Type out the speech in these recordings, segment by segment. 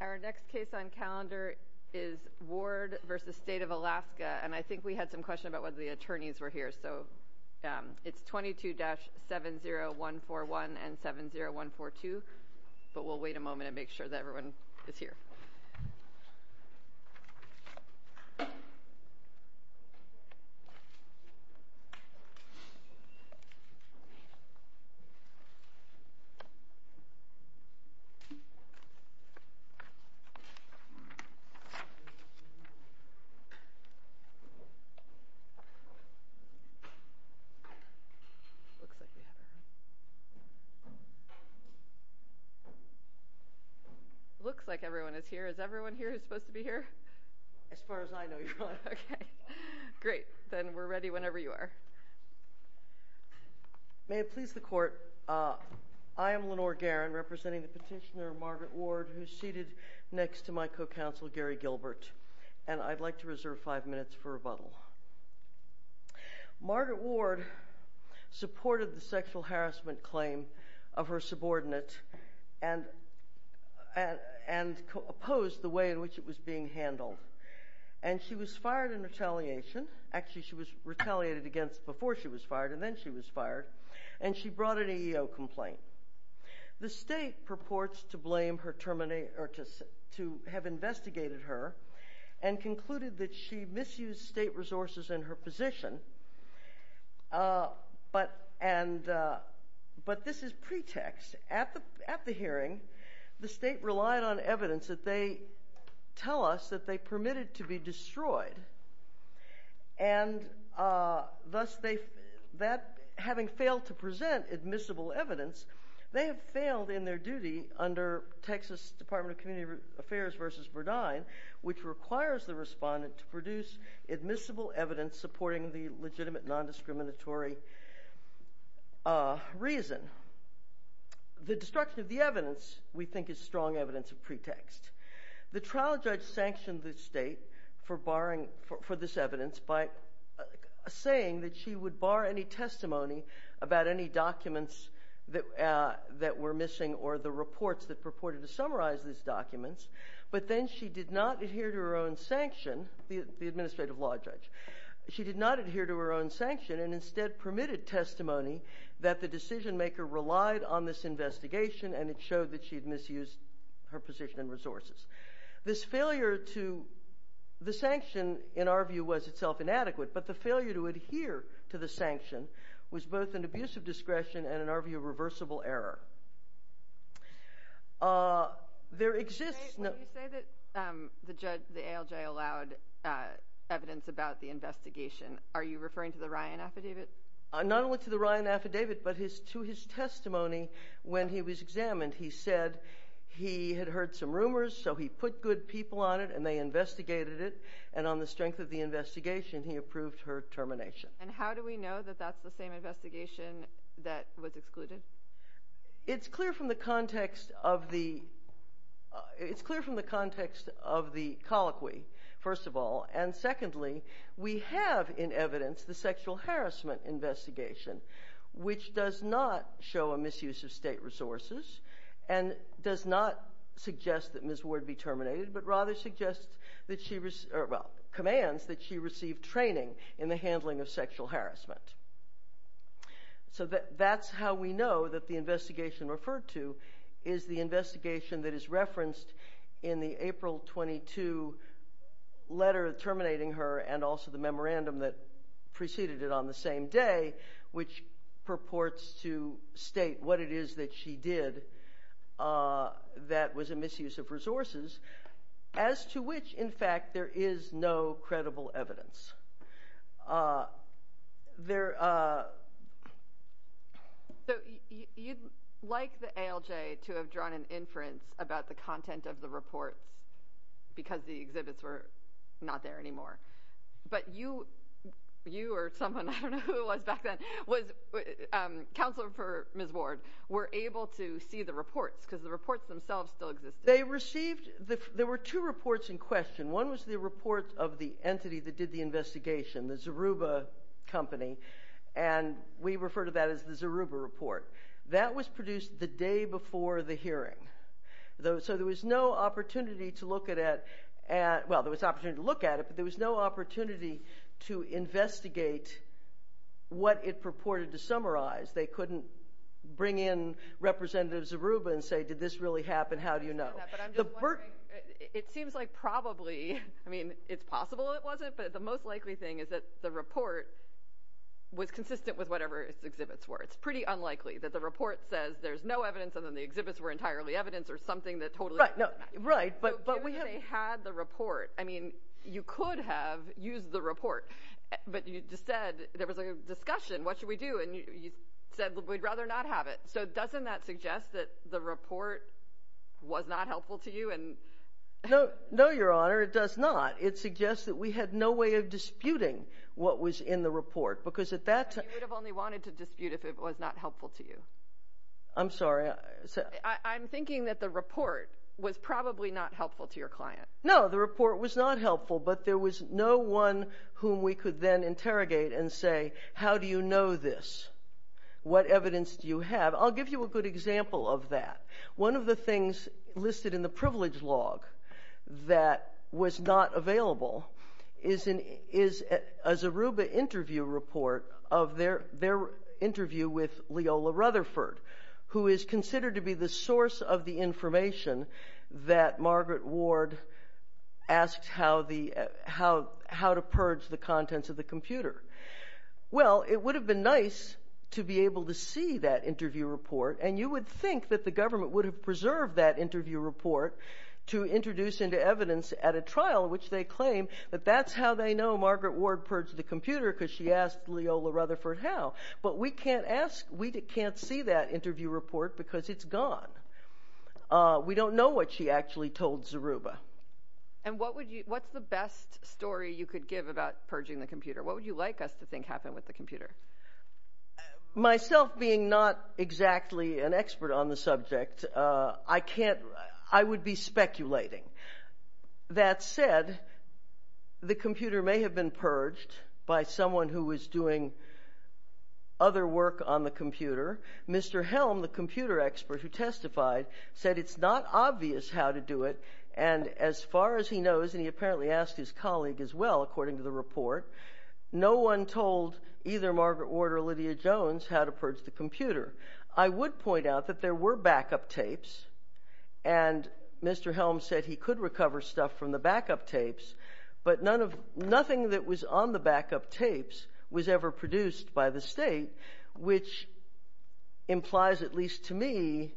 Our next case on calendar is Ward v. State of Alaska, and I think we had some question about whether the attorneys were here, so it's 22-70141 and 70142, but we'll wait a little bit. Looks like everyone is here. Is everyone here who's supposed to be here? As far as I know, you're not. Okay. Great. Then we're ready whenever you are. May it please the Court, I am Lenore Guerin representing the petitioner Margaret Ward who's seated next to my co-counsel Gary Gilbert, and I'd like to reserve five minutes for rebuttal. Margaret Ward supported the sexual harassment claim of her subordinate and opposed the way in which it was being handled. And she was fired in retaliation, actually she was retaliated against before she was fired, and she brought an EEO complaint. The State purports to blame her terminate, or to have investigated her and concluded that she misused State resources in her position, but this is pretext. At the hearing, the State relied on evidence that they tell us that they permitted to be Having failed to present admissible evidence, they have failed in their duty under Texas Department of Community Affairs v. Verdine, which requires the respondent to produce admissible evidence supporting the legitimate non-discriminatory reason. The destruction of the evidence, we think, is strong evidence of pretext. The trial judge sanctioned the State for barring, for this evidence, by saying that she would bar any testimony about any documents that were missing or the reports that purported to summarize these documents. But then she did not adhere to her own sanction, the administrative law judge, she did not adhere to her own sanction and instead permitted testimony that the decision maker relied on this investigation and it showed that she had misused her position and resources. This failure to, the sanction, in our view, was itself inadequate, but the failure to sanction was both an abuse of discretion and, in our view, a reversible error. There exists... When you say that the ALJ allowed evidence about the investigation, are you referring to the Ryan Affidavit? Not only to the Ryan Affidavit, but to his testimony when he was examined. He said he had heard some rumors, so he put good people on it and they investigated it, and on the strength of the investigation, he approved her termination. And how do we know that that's the same investigation that was excluded? It's clear from the context of the... It's clear from the context of the colloquy, first of all, and secondly, we have in evidence the sexual harassment investigation, which does not show a misuse of state resources and does not suggest that Ms. Ward be terminated, but rather suggests that she, well, commands that she receive training in the handling of sexual harassment. So that's how we know that the investigation referred to is the investigation that is referenced in the April 22 letter terminating her and also the memorandum that preceded it on the same day, which purports to state what it is that she did that was a misuse of resources, as to which, in fact, there is no credible evidence. There... So you'd like the ALJ to have drawn an inference about the content of the reports because the exhibits were not there anymore, but you or someone, I don't know who it was back then, counselor for Ms. Ward, were able to see the reports because the reports themselves still existed. They received... There were two reports in question. One was the report of the entity that did the investigation, the Zoruba Company, and we refer to that as the Zoruba Report. That was produced the day before the hearing. So there was no opportunity to look at it, but there was no opportunity to investigate what it purported to summarize. They couldn't bring in Representative Zoruba and say, did this really happen? How do you know? But I'm just wondering, it seems like probably, I mean, it's possible it wasn't, but the most likely thing is that the report was consistent with whatever its exhibits were. It's pretty unlikely that the report says there's no evidence and then the exhibits were entirely evidence or something that totally doesn't matter. Right, but we have... Given that they had the report, I mean, you could have used the report, but you just said there was a discussion, what should we do, and you said we'd rather not have it. So doesn't that suggest that the report was not helpful to you? No, Your Honor, it does not. It suggests that we had no way of disputing what was in the report, because at that time... You would have only wanted to dispute if it was not helpful to you. I'm sorry. I'm thinking that the report was probably not helpful to your client. No, the report was not helpful, but there was no one whom we could then interrogate and say, how do you know this? What evidence do you have? I'll give you a good example of that. One of the things listed in the privilege log that was not available is a Zoruba interview report of their interview with Leola Rutherford, who is considered to be the source of the information that Margaret Ward asked how to purge the contents of the computer. Well, it would have been nice to be able to see that interview report, and you would think that the government would have preserved that interview report to introduce into evidence at a trial, which they claim that that's how they know Margaret Ward purged the computer, because she asked Leola Rutherford how. But we can't see that interview report, because it's gone. We don't know what she actually told Zoruba. And what's the best story you could give about purging the computer? What would you like us to think happened with the computer? Myself being not exactly an expert on the subject, I would be speculating. That said, the computer may have been purged by someone who was doing other work on the computer. Mr. Helm, the computer expert who testified, said it's not obvious how to do it. And as far as he knows, and he apparently asked his colleague as well, according to the report, no one told either Margaret Ward or Lydia Jones how to purge the computer. I would point out that there were backup tapes, and Mr. Helm said he could recover stuff from the backup tapes, but nothing that was on the backup tapes was ever produced by the state, which implies, at least to me,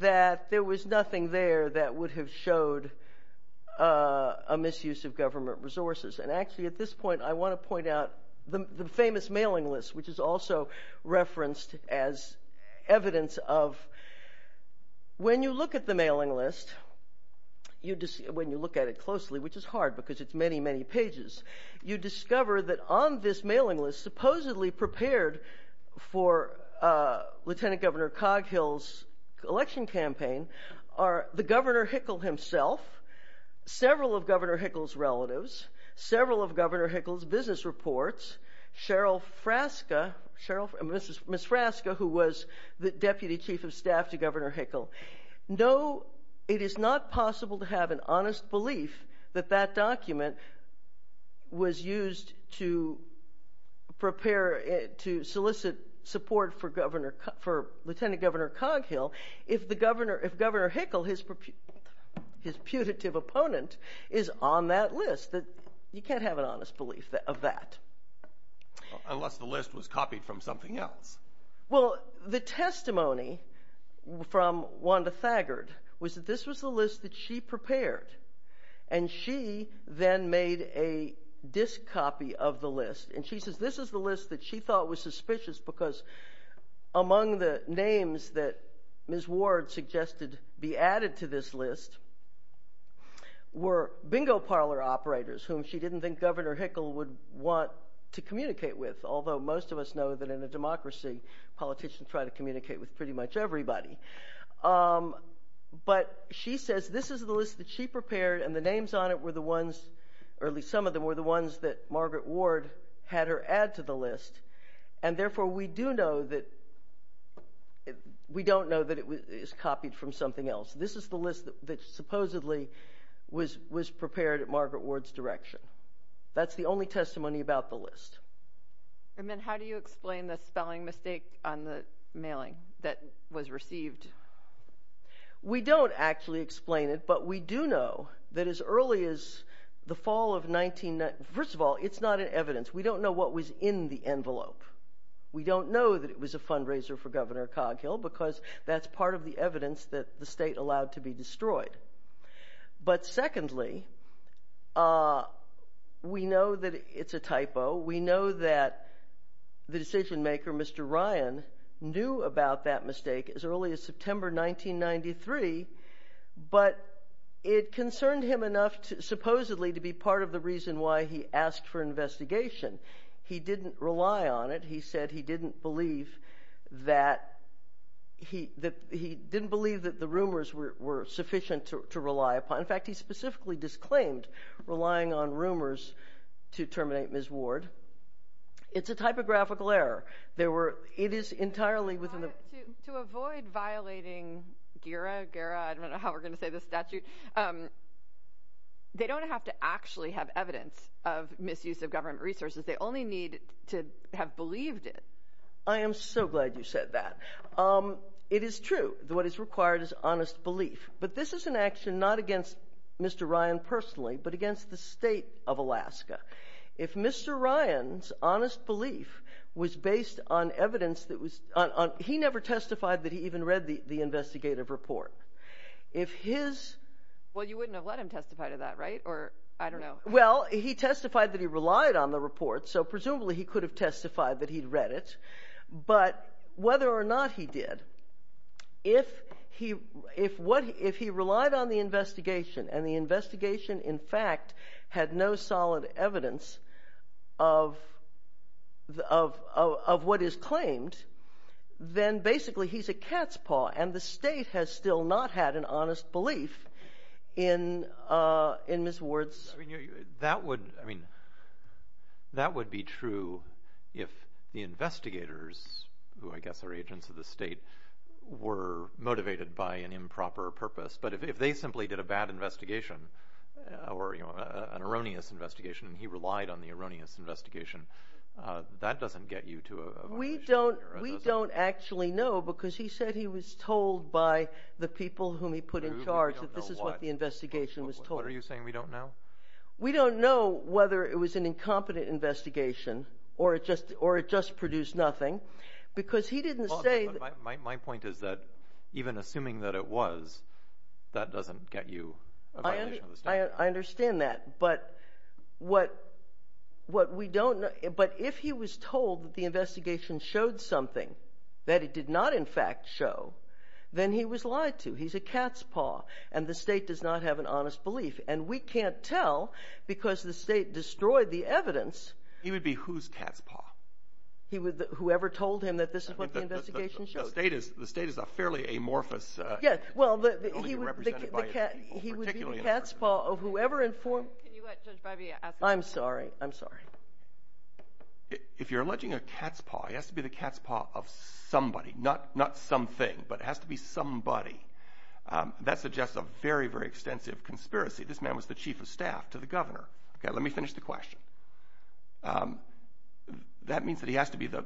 that there was nothing there that would have showed a misuse of government resources. And actually, at this point, I want to point out the famous mailing list, which is also referenced as evidence of when you look at the mailing list, when you look at it closely, which is hard, because it's many, many pages, you discover that on this mailing list, supposedly prepared for Lieutenant Governor Coghill's election campaign, are the Governor Hickle himself, several of Governor Hickle's relatives, several of Governor Hickle's business reports, Cheryl Frasca, Ms. Frasca, who was the Deputy Chief of Staff to Governor Hickle. No, it is not possible to have an honest belief that that document was used to prepare, to solicit support for Lieutenant Governor Coghill if Governor Hickle, his putative opponent, is on that list. You can't have an honest belief of that. Unless the list was copied from something else. Well, the testimony from Wanda Thagard was that this was the list that she prepared. And she then made a disc copy of the list. And she says this is the list that she thought was suspicious because among the names that Ms. Ward suggested be added to this list were bingo parlor operators whom she didn't think Governor Hickle would want to communicate with, although most of us know that in a democracy, politicians try to communicate with pretty much everybody. But she says this is the list that she prepared and the names on it were the ones, or at least some of them, were the ones that Margaret Ward had her add to the list. And therefore, we do know that, we don't know that it is copied from something else. This is the list that supposedly was prepared at Margaret Ward's direction. That's the only testimony about the list. And then how do you explain the spelling mistake on the mailing that was received? We don't actually explain it, but we do know that as early as the fall of 1990, first of all, it's not in evidence. We don't know what was in the envelope. We don't know that it was a fundraiser for Governor Coghill because that's part of the evidence that the state allowed to be destroyed. But secondly, we know that it's a typo. We know that the decision maker, Mr. Ryan, knew about that mistake as early as September 1993, but it concerned him enough, supposedly, to be part of the reason why he asked for investigation. He didn't rely on it. He said he didn't believe that, he didn't believe that the rumors were sufficient to rely upon. In fact, he specifically disclaimed relying on rumors to terminate Ms. Ward. It's a typographical error. There were, it is entirely within the- To avoid violating GERA, I don't know how we're going to say this statute. They don't have to actually have evidence of misuse of government resources. They only need to have believed it. I am so glad you said that. It is true that what is required is honest belief, but this is an action not against Mr. Ryan personally, but against the state of Alaska. If Mr. Ryan's honest belief was based on evidence that was, he never testified that he even read the investigative report. If his- Well, you wouldn't have let him testify to that, right? Or, I don't know. Well, he testified that he relied on the report, so presumably he could have testified that he'd read it, but whether or not he did, if he relied on the investigation and the investigation, in fact, had no solid evidence of what is claimed, then basically he's a cat's paw, and the state has still not had an honest belief in Ms. Ward's- That would be true if the investigators, who I guess are agents of the state, were motivated by an improper purpose, but if they simply did a bad investigation, or an erroneous investigation, and he relied on the erroneous investigation, that doesn't get you to a- We don't actually know, because he said he was told by the people whom he put in charge that this is what the investigation was told. What are you saying, we don't know? We don't know whether it was an incompetent investigation, or it just produced nothing, because he didn't say- My point is that, even assuming that it was, that doesn't get you a violation of the state. I understand that, but if he was told that the investigation showed something that it did not, in fact, show, then he was lied to, he's a cat's paw, and the state does not have an honest belief, and we can't tell, because the state destroyed the evidence- He would be whose cat's paw? He would, whoever told him that this is what the investigation showed. The state is a fairly amorphous- Yeah, well, he would be the cat's paw of whoever informed- Can you let Judge Breyby ask- I'm sorry, I'm sorry. If you're alleging a cat's paw, it has to be the cat's paw of somebody, not something, but it has to be somebody. That suggests a very, very extensive conspiracy. This man was the chief of staff to the governor. Okay, let me finish the question. That means that he has to be the-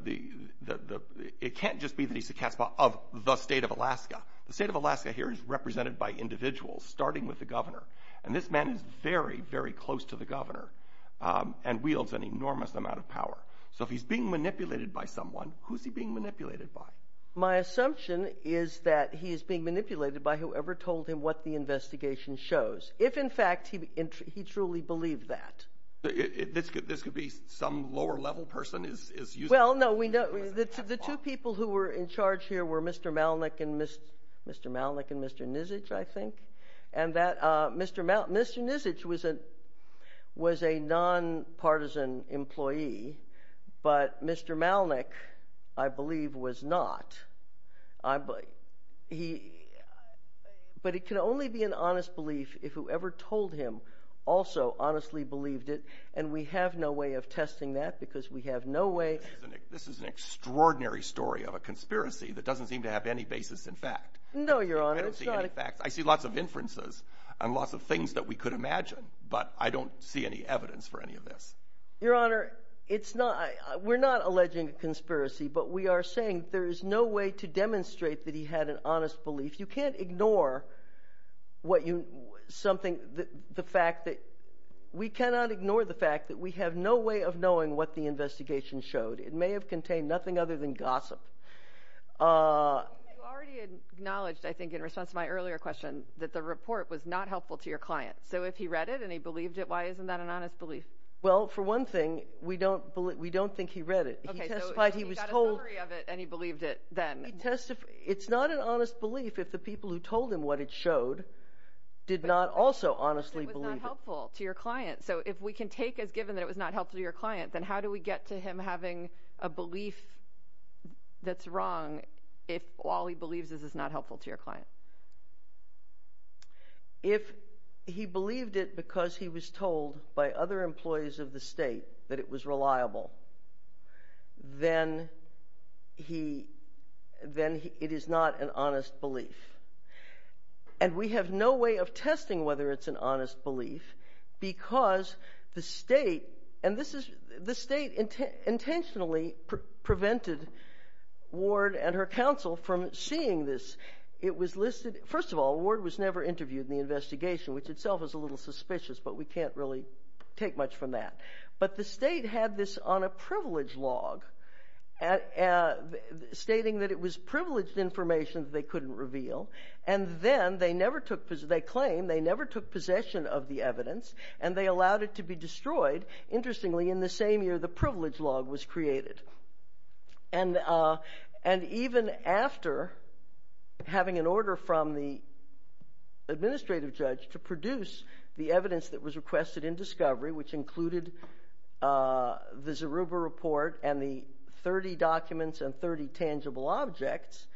It can't just be that he's the cat's paw of the state of Alaska. The state of Alaska here is represented by individuals, starting with the governor, and this man is very, very close to the governor and wields an enormous amount of power, so if he's being manipulated by someone, who's he being manipulated by? My assumption is that he is being manipulated by whoever told him what the investigation shows, if, in fact, he truly believed that. This could be some lower-level person is using- Well, no, the two people who were in charge here were Mr. Malnick and Mr. Nisic, I think, and that Mr. Nisic was a nonpartisan employee, but Mr. Malnick, I believe, was not. But it can only be an honest belief if whoever told him also honestly believed it, and we have no way of testing that because we have no way- This is an extraordinary story of a conspiracy that doesn't seem to have any basis in fact. No, Your Honor. I don't see any facts. I see lots of inferences and lots of things that we could imagine, but I don't see any evidence for any of this. Your Honor, we're not alleging a conspiracy, but we are saying there is no way to demonstrate that he had an honest belief. You can't ignore the fact that- We cannot ignore the fact that we have no way of knowing what the investigation showed. It may have contained nothing other than gossip. You already acknowledged, I think, in response to my earlier question, that the report was not helpful to your client. So if he read it and he believed it, why isn't that an honest belief? Well, for one thing, we don't think he read it. Okay, so he got a summary of it and he believed it then. It's not an honest belief if the people who told him what it showed did not also honestly believe it. It was not helpful to your client. So if we can take as given that it was not helpful to your client, then how do we get to him having a belief that's wrong if all he believes is it's not helpful to your client? If he believed it because he was told by other employees of the state that it was reliable, then it is not an honest belief. And we have no way of testing whether it's an honest belief because the state intentionally prevented Ward and her counsel from seeing this. First of all, Ward was never interviewed in the investigation, which itself is a little suspicious, but we can't really take much from that. But the state had this on a privilege log stating that it was privileged information that they couldn't reveal. And then they claim they never took possession of the evidence and they allowed it to be destroyed. Interestingly, in the same year, the privilege log was created. And even after having an order from the administrative judge to produce the evidence that was requested in discovery, which included the Zeruba report and the 30 documents and 30 tangible objects,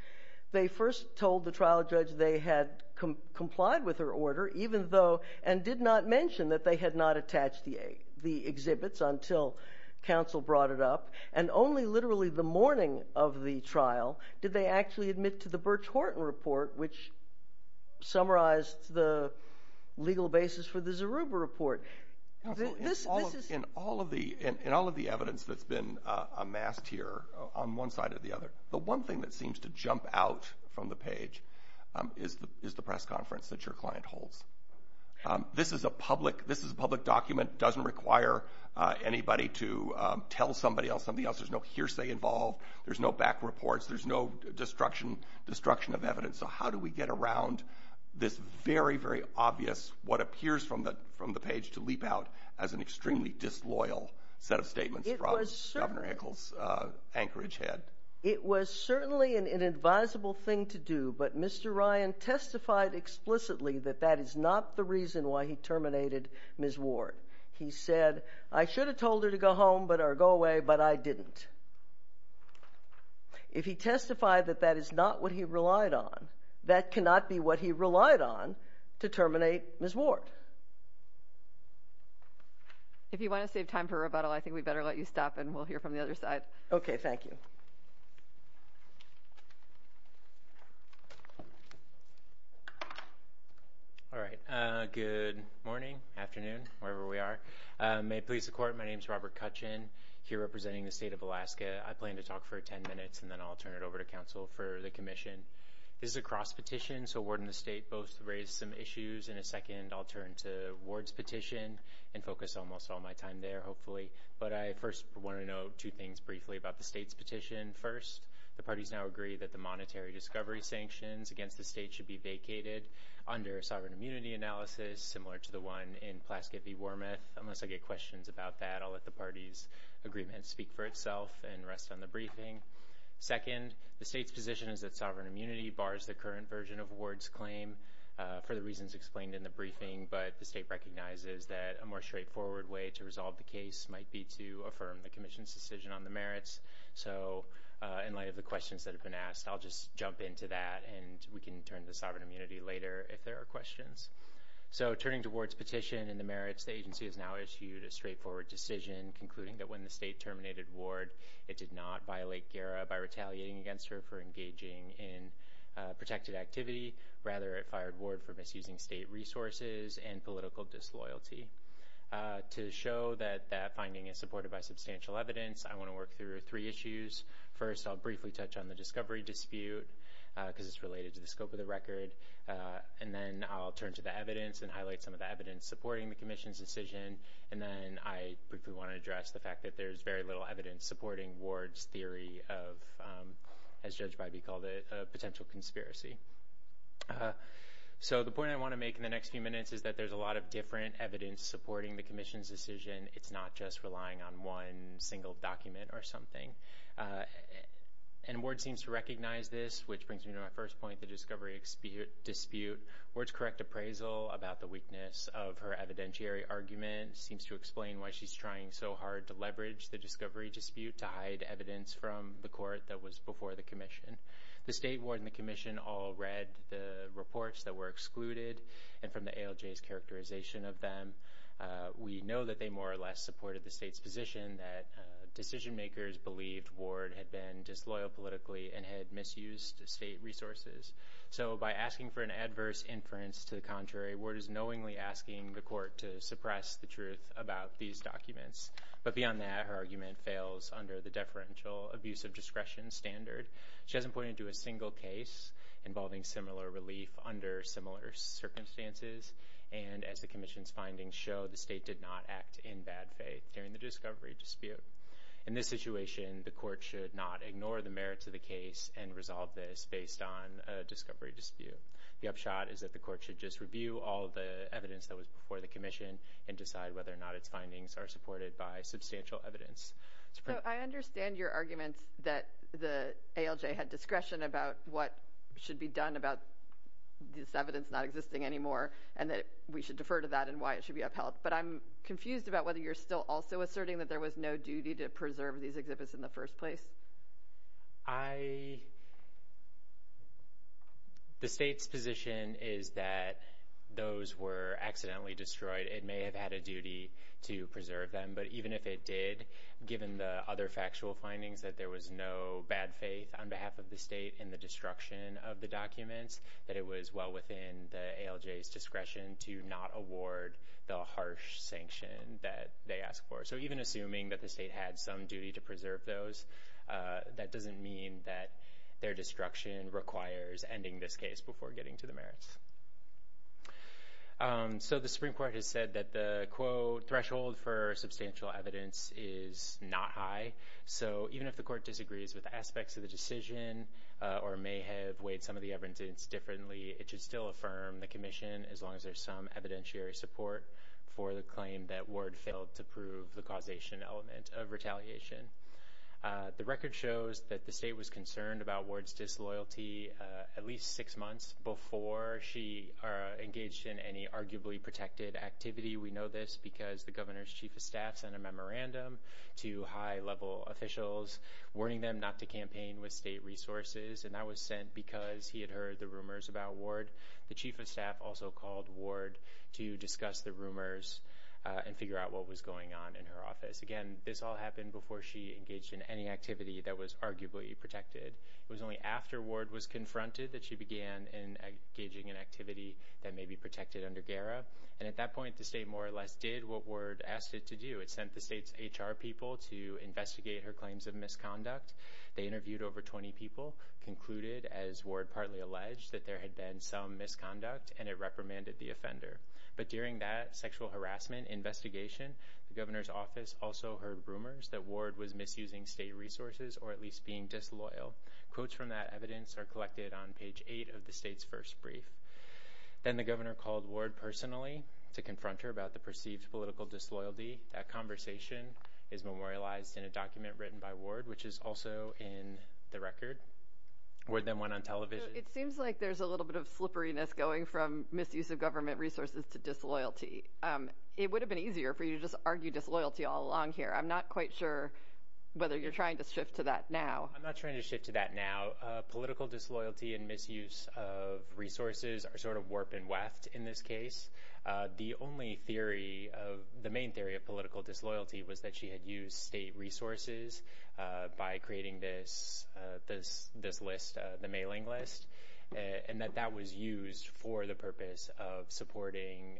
they first told the trial judge they had complied with their order even though and did not mention that they had not attached the exhibits until counsel brought it up. And only literally the morning of the trial did they actually admit to the Birch Horton report, which summarized the legal basis for the Zeruba report. In all of the evidence that's been amassed here on one side or the other, the one thing that seems to jump out from the page is the press conference that your client holds. This is a public document. Doesn't require anybody to tell somebody else something else. There's no hearsay involved. There's no back reports. There's no destruction of evidence. So how do we get around this very, very obvious, what appears from the page to leap out as an extremely disloyal set of statements from Governor Echols' Anchorage head? It was certainly an inadvisable thing to do, but Mr. Ryan testified explicitly that that is not the reason why he terminated Ms. Ward. He said, I should have told her to go home or go away, but I didn't. If he testified that that is not what he relied on, that cannot be what he relied on to terminate Ms. Ward. If you want to save time for rebuttal, I think we better let you stop and we'll hear from the other side. Okay, thank you. All right. Good morning, afternoon, wherever we are. May it please the court, my name is Robert Cutchin, here representing the state of Alaska. I plan to talk for 10 minutes and then I'll turn it over to counsel for the commission. This is a cross petition, so Ward and the state both raised some issues in a second. I'll turn to Ward's petition and focus almost all my time there, hopefully. But I first want to know two things briefly about the state's petition. First, the parties now agree that the monetary discovery sanctions against the state should be vacated under a sovereign immunity analysis, similar to the one in Plaskett v. Wormuth. Unless I get questions about that, I'll let the party's agreement speak for itself and rest on the briefing. Second, the state's position is that sovereign immunity bars the current version of Ward's claim for the reasons explained in the briefing, but the state recognizes that a more straightforward way to resolve the case might be to affirm the commission's decision on the merits. So in light of the questions that have been asked, I'll just jump into that and we can turn to sovereign immunity later if there are questions. So turning to Ward's petition and the merits, the agency has now issued a straightforward decision concluding that when the state terminated Ward, it did not violate GERA by retaliating against her for engaging in protected activity. Rather, it fired Ward for misusing state resources and political disloyalty. To show that that finding is supported by substantial evidence, I want to work through three issues. First, I'll briefly touch on the discovery dispute because it's related to the scope of the record. And then I'll turn to the evidence and highlight some of the evidence supporting the commission's decision. And then I briefly want to address the fact that there's very little evidence supporting Ward's theory of, as Judge Bybee called it, a potential conspiracy. So the point I want to make in the next few minutes is that there's a lot of different evidence supporting the commission's decision. It's not just relying on one single document or something. And Ward seems to recognize this, which brings me to my first point, the discovery dispute. Ward's correct appraisal about the weakness of her evidentiary argument seems to explain why she's trying so hard to leverage the discovery dispute to hide evidence from the court that was before the commission. The state ward and the commission all read the reports that were excluded and from the ALJ's characterization of them. We know that they more or less supported the state's position that decision makers believed Ward had been disloyal politically and had misused state resources. So by asking for an adverse inference to the contrary, Ward is knowingly asking the court to suppress the truth about these documents. But beyond that, her argument fails under the deferential abuse of discretion standard. She hasn't pointed to a single case involving similar relief under similar circumstances. And as the commission's findings show, the state did not act in bad faith during the discovery dispute. In this situation, the court should not ignore the merits of the case and resolve this based on a discovery dispute. The upshot is that the court should just review all the evidence that was before the commission and decide whether or not its findings are supported by substantial evidence. So I understand your arguments that the ALJ had discretion about what should be done about this evidence not existing anymore and that we should defer to that and why it should be upheld. But I'm confused about whether you're still also asserting that there was no duty to preserve these exhibits in the first place. I... The state's position is that those were accidentally destroyed. It may have had a duty to preserve them. But even if it did, given the other factual findings, that there was no bad faith on behalf of the state in the destruction of the documents, that it was well within the ALJ's discretion to not award the harsh sanction that they asked for. So even assuming that the state had some duty to preserve those, that doesn't mean that their destruction requires ending this case before getting to the merits. So the Supreme Court has said that the, quote, threshold for substantial evidence is not high. So even if the court disagrees with aspects of the decision or may have weighed some of the evidence differently, it should still affirm the commission as long as there's some evidentiary support for the claim that Ward failed to prove the causation element of retaliation. The record shows that the state was concerned about Ward's disloyalty at least six months before she engaged in any arguably protected activity. We know this because the governor's chief of staff sent a memorandum to high-level officials warning them not to campaign with state resources. And that was sent because he had heard the rumors about Ward. The chief of staff also called Ward to discuss the rumors and figure out what was going on in her office. Again, this all happened before she engaged in any activity that was arguably protected. It was only after Ward was confronted that she began engaging in activity that may be protected under GARA. And at that point, the state more or less did what Ward asked it to do. It sent the state's HR people to investigate her claims of misconduct. They interviewed over 20 people, concluded, as Ward partly alleged, that there had been some misconduct, and it reprimanded the offender. But during that sexual harassment investigation, the governor's office also heard rumors that Ward was misusing state resources or at least being disloyal. Quotes from that evidence are collected on page 8 of the state's first brief. Then the governor called Ward personally to confront her about the perceived political disloyalty that conversation is memorialized in a document written by Ward, which is also in the record. Ward then went on television. It seems like there's a little bit of slipperiness going from misuse of government resources to disloyalty. It would have been easier for you to just argue disloyalty all along here. I'm not quite sure whether you're trying to shift to that now. I'm not trying to shift to that now. Political disloyalty and misuse of resources are sort of warp and weft in this case. The only theory of the main theory of political disloyalty was that she had used state resources by creating this list, the mailing list, and that that was used for the purpose of supporting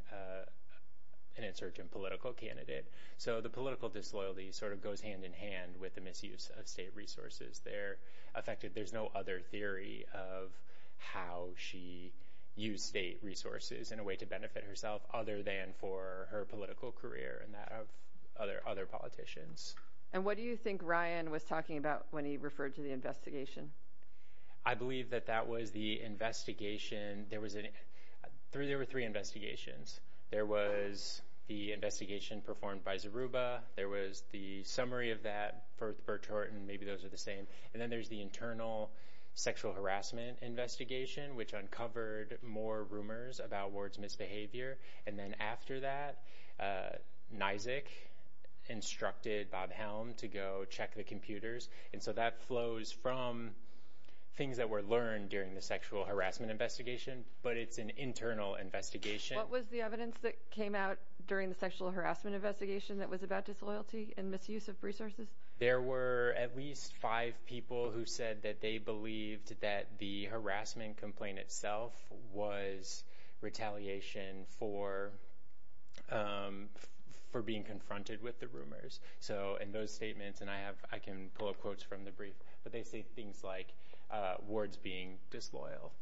an insurgent political candidate. So the political disloyalty sort of goes hand in hand with the misuse of state resources. They're affected. There's no other theory of how she used state resources in a way to benefit herself other than for her political career and that of other politicians. And what do you think Ryan was talking about when he referred to the investigation? I believe that that was the investigation. There were three investigations. There was the investigation performed by Zeruba. There was the summary of that for Burt Horton. Maybe those are the same. And then there's the internal sexual harassment investigation, which uncovered more rumors about Ward's misbehavior. And then after that, Nizick instructed Bob Helm to go check the computers. And so that flows from things that were learned during the sexual harassment investigation, but it's an internal investigation. What was the evidence that came out during the sexual harassment investigation that was about disloyalty and misuse of resources? There were at least five people who said that they believed that the harassment complaint itself was retaliation for being confronted with the rumors. So in those statements, and I can pull up quotes from the brief, but they say things like, Ward's being disloyal.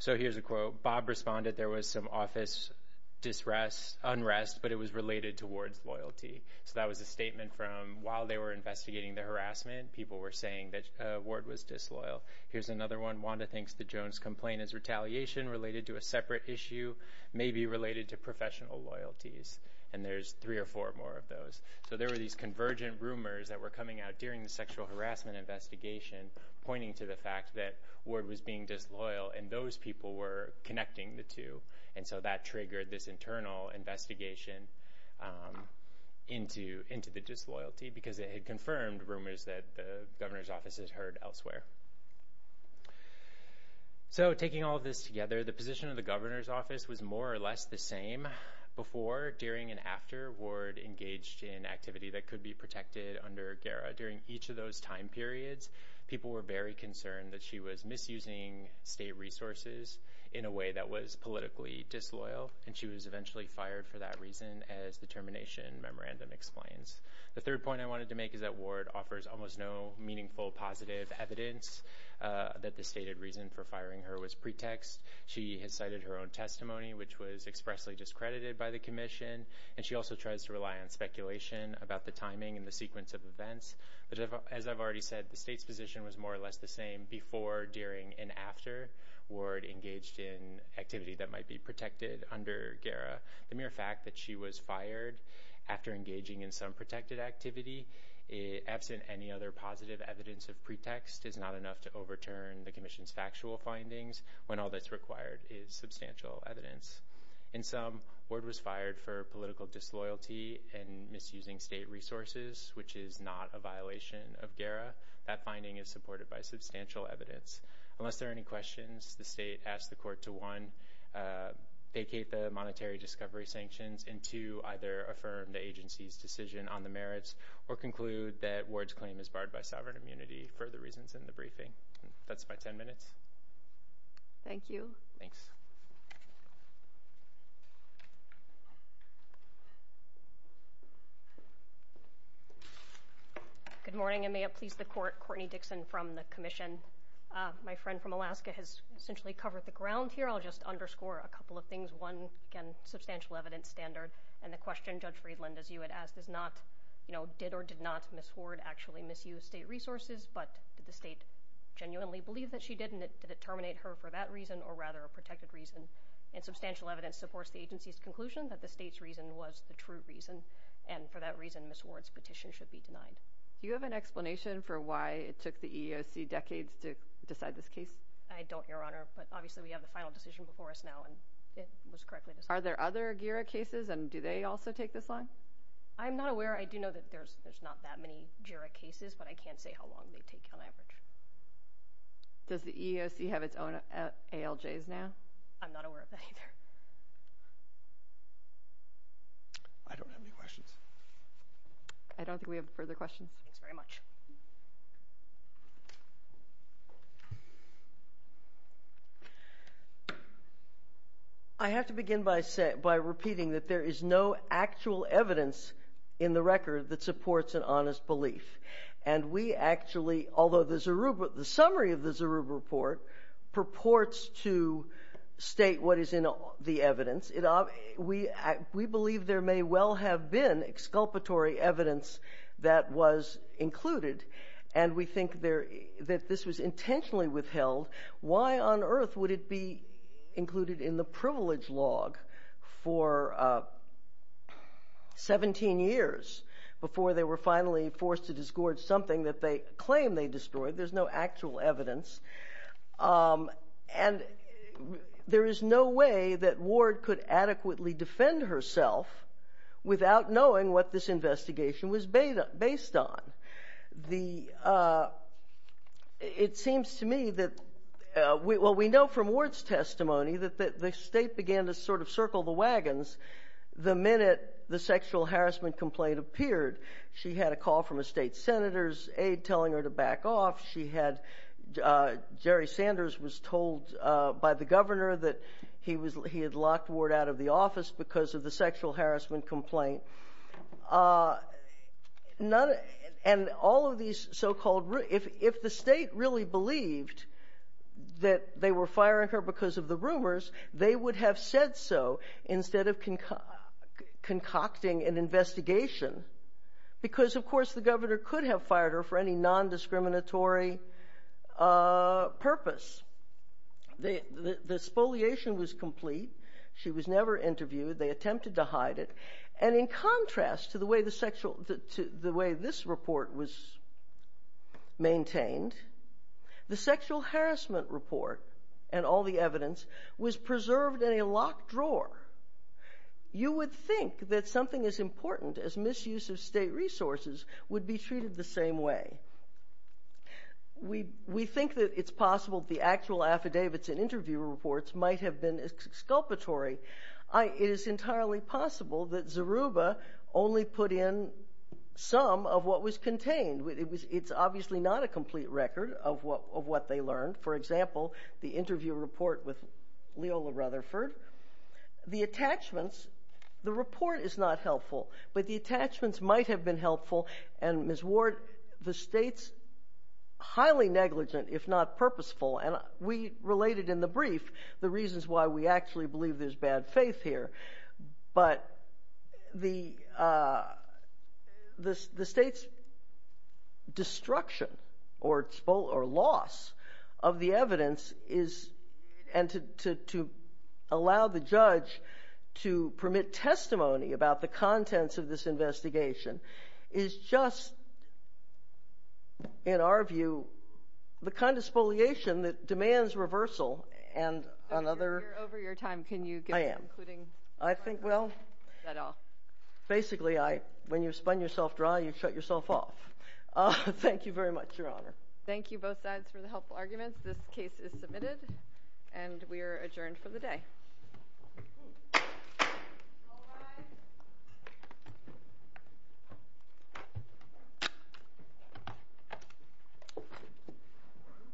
So here's a quote. Bob responded, there was some office unrest, but it was related to Ward's loyalty. So that was a statement from while they were investigating the harassment, people were saying that Ward was disloyal. Here's another one. Wanda thinks the Jones complaint is retaliation related to a separate issue, maybe related to professional loyalties. And there's three or four more of those. So there were these convergent rumors that were coming out during the sexual harassment investigation, pointing to the fact that Ward was being disloyal, and those people were connecting the two. And so that triggered this internal investigation into the disloyalty, because it had confirmed rumors that the governor's office has heard elsewhere. So taking all of this together, the position of the governor's office was more or less the same. Before, during, and after Ward engaged in activity that could be protected under GERA. During each of those time periods, people were very concerned that she was misusing state resources in a way that was politically disloyal. And she was eventually fired for that reason, as the termination memorandum explains. The third point I wanted to make is that Ward offers almost no meaningful positive evidence that the stated reason for firing her was pretext. She has cited her own testimony, which was expressly discredited by the commission. And she also tries to rely on speculation about the timing and the sequence of events. But as I've already said, the state's position was more or less the same. Before, during, and after Ward engaged in activity that might be protected under GERA. The mere fact that she was fired after engaging in some protected activity, absent any other positive evidence of pretext, is not enough to overturn the commission's factual findings, when all that's required is substantial evidence. In sum, Ward was fired for political disloyalty and misusing state resources, which is not a violation of GERA. That finding is supported by substantial evidence. Unless there are any questions, the state asks the court to one, vacate the monetary discovery sanctions, and two, either affirm the agency's decision on the merits, or conclude that Ward's claim is barred by sovereign immunity for the reasons in the briefing. That's my 10 minutes. Thank you. Thanks. Good morning. And may it please the court, Courtney Dixon from the commission. My friend from Alaska has essentially covered the ground here. I'll just underscore a couple of things. One, again, substantial evidence standard. And the question Judge Friedland, as you had asked, is not, you know, did or did not Miss Ward actually misuse state resources? But did the state genuinely believe that she did? And did it terminate her for that reason, or rather a protected reason? And substantial evidence supports the agency's conclusion that the state's reason was the true reason. And for that reason, Miss Ward's petition should be denied. Do you have an explanation for why it took the EEOC decades to decide this case? I don't, Your Honor. But obviously, we have the final decision before us now, and it was correctly decided. Are there other GERA cases? And do they also take this long? I'm not aware. I do know that there's not that many GERA cases, but I can't say how long they take on average. Does the EEOC have its own ALJs now? I'm not aware of that either. I don't have any questions. I don't think we have further questions. Thanks very much. I have to begin by repeating that there is no actual evidence in the record that supports an honest belief. And we actually, although there's the summary of the Zurub report, purports to state what is in the evidence. We believe there may well have been exculpatory evidence that was included. And we think that this was intentionally withheld. Why on earth would it be included in the privilege log for 17 years before they were finally forced to disgorge something that they claim they destroyed? There's no actual evidence. And there is no way that Ward could adequately defend herself without knowing what this investigation was based on. It seems to me that, well, we know from Ward's testimony that the state began to sort of circle the wagons the minute the sexual harassment complaint appeared. She had a call from a state senator's aide telling her to back off. She had, Jerry Sanders was told by the governor that he had locked Ward out of the office because of the sexual harassment complaint. And all of these so-called, if the state really believed that they were firing her because of the rumors, they would have said so instead of concocting an investigation. Because, of course, the governor could have fired her for any non-discriminatory purpose. The spoliation was complete. She was never interviewed. They attempted to hide it. And in contrast to the way this report was maintained, the sexual harassment report and all the evidence was preserved in a locked drawer. You would think that something as important as misuse of state resources would be treated the same way. We think that it's possible the actual affidavits and interview reports might have been exculpatory. It is entirely possible that Zoruba only put in some of what was contained. It's obviously not a complete record of what they learned. For example, the interview report with Leola Rutherford. The attachments, the report is not helpful. But the attachments might have been helpful. And Ms. Ward, the state's highly negligent, if not purposeful. And we related in the brief the reasons why we actually believe there's bad faith here. But the state's destruction or loss of the evidence is to allow the judge to permit testimony about the contents of this investigation. It's just, in our view, the kind of spoliation that demands reversal and another- You're over your time. Can you get concluding- I am. I think, well, basically, when you spun yourself dry, you shut yourself off. Thank you very much, Your Honor. Thank you both sides for the helpful arguments. This case is submitted. And we are adjourned for the day.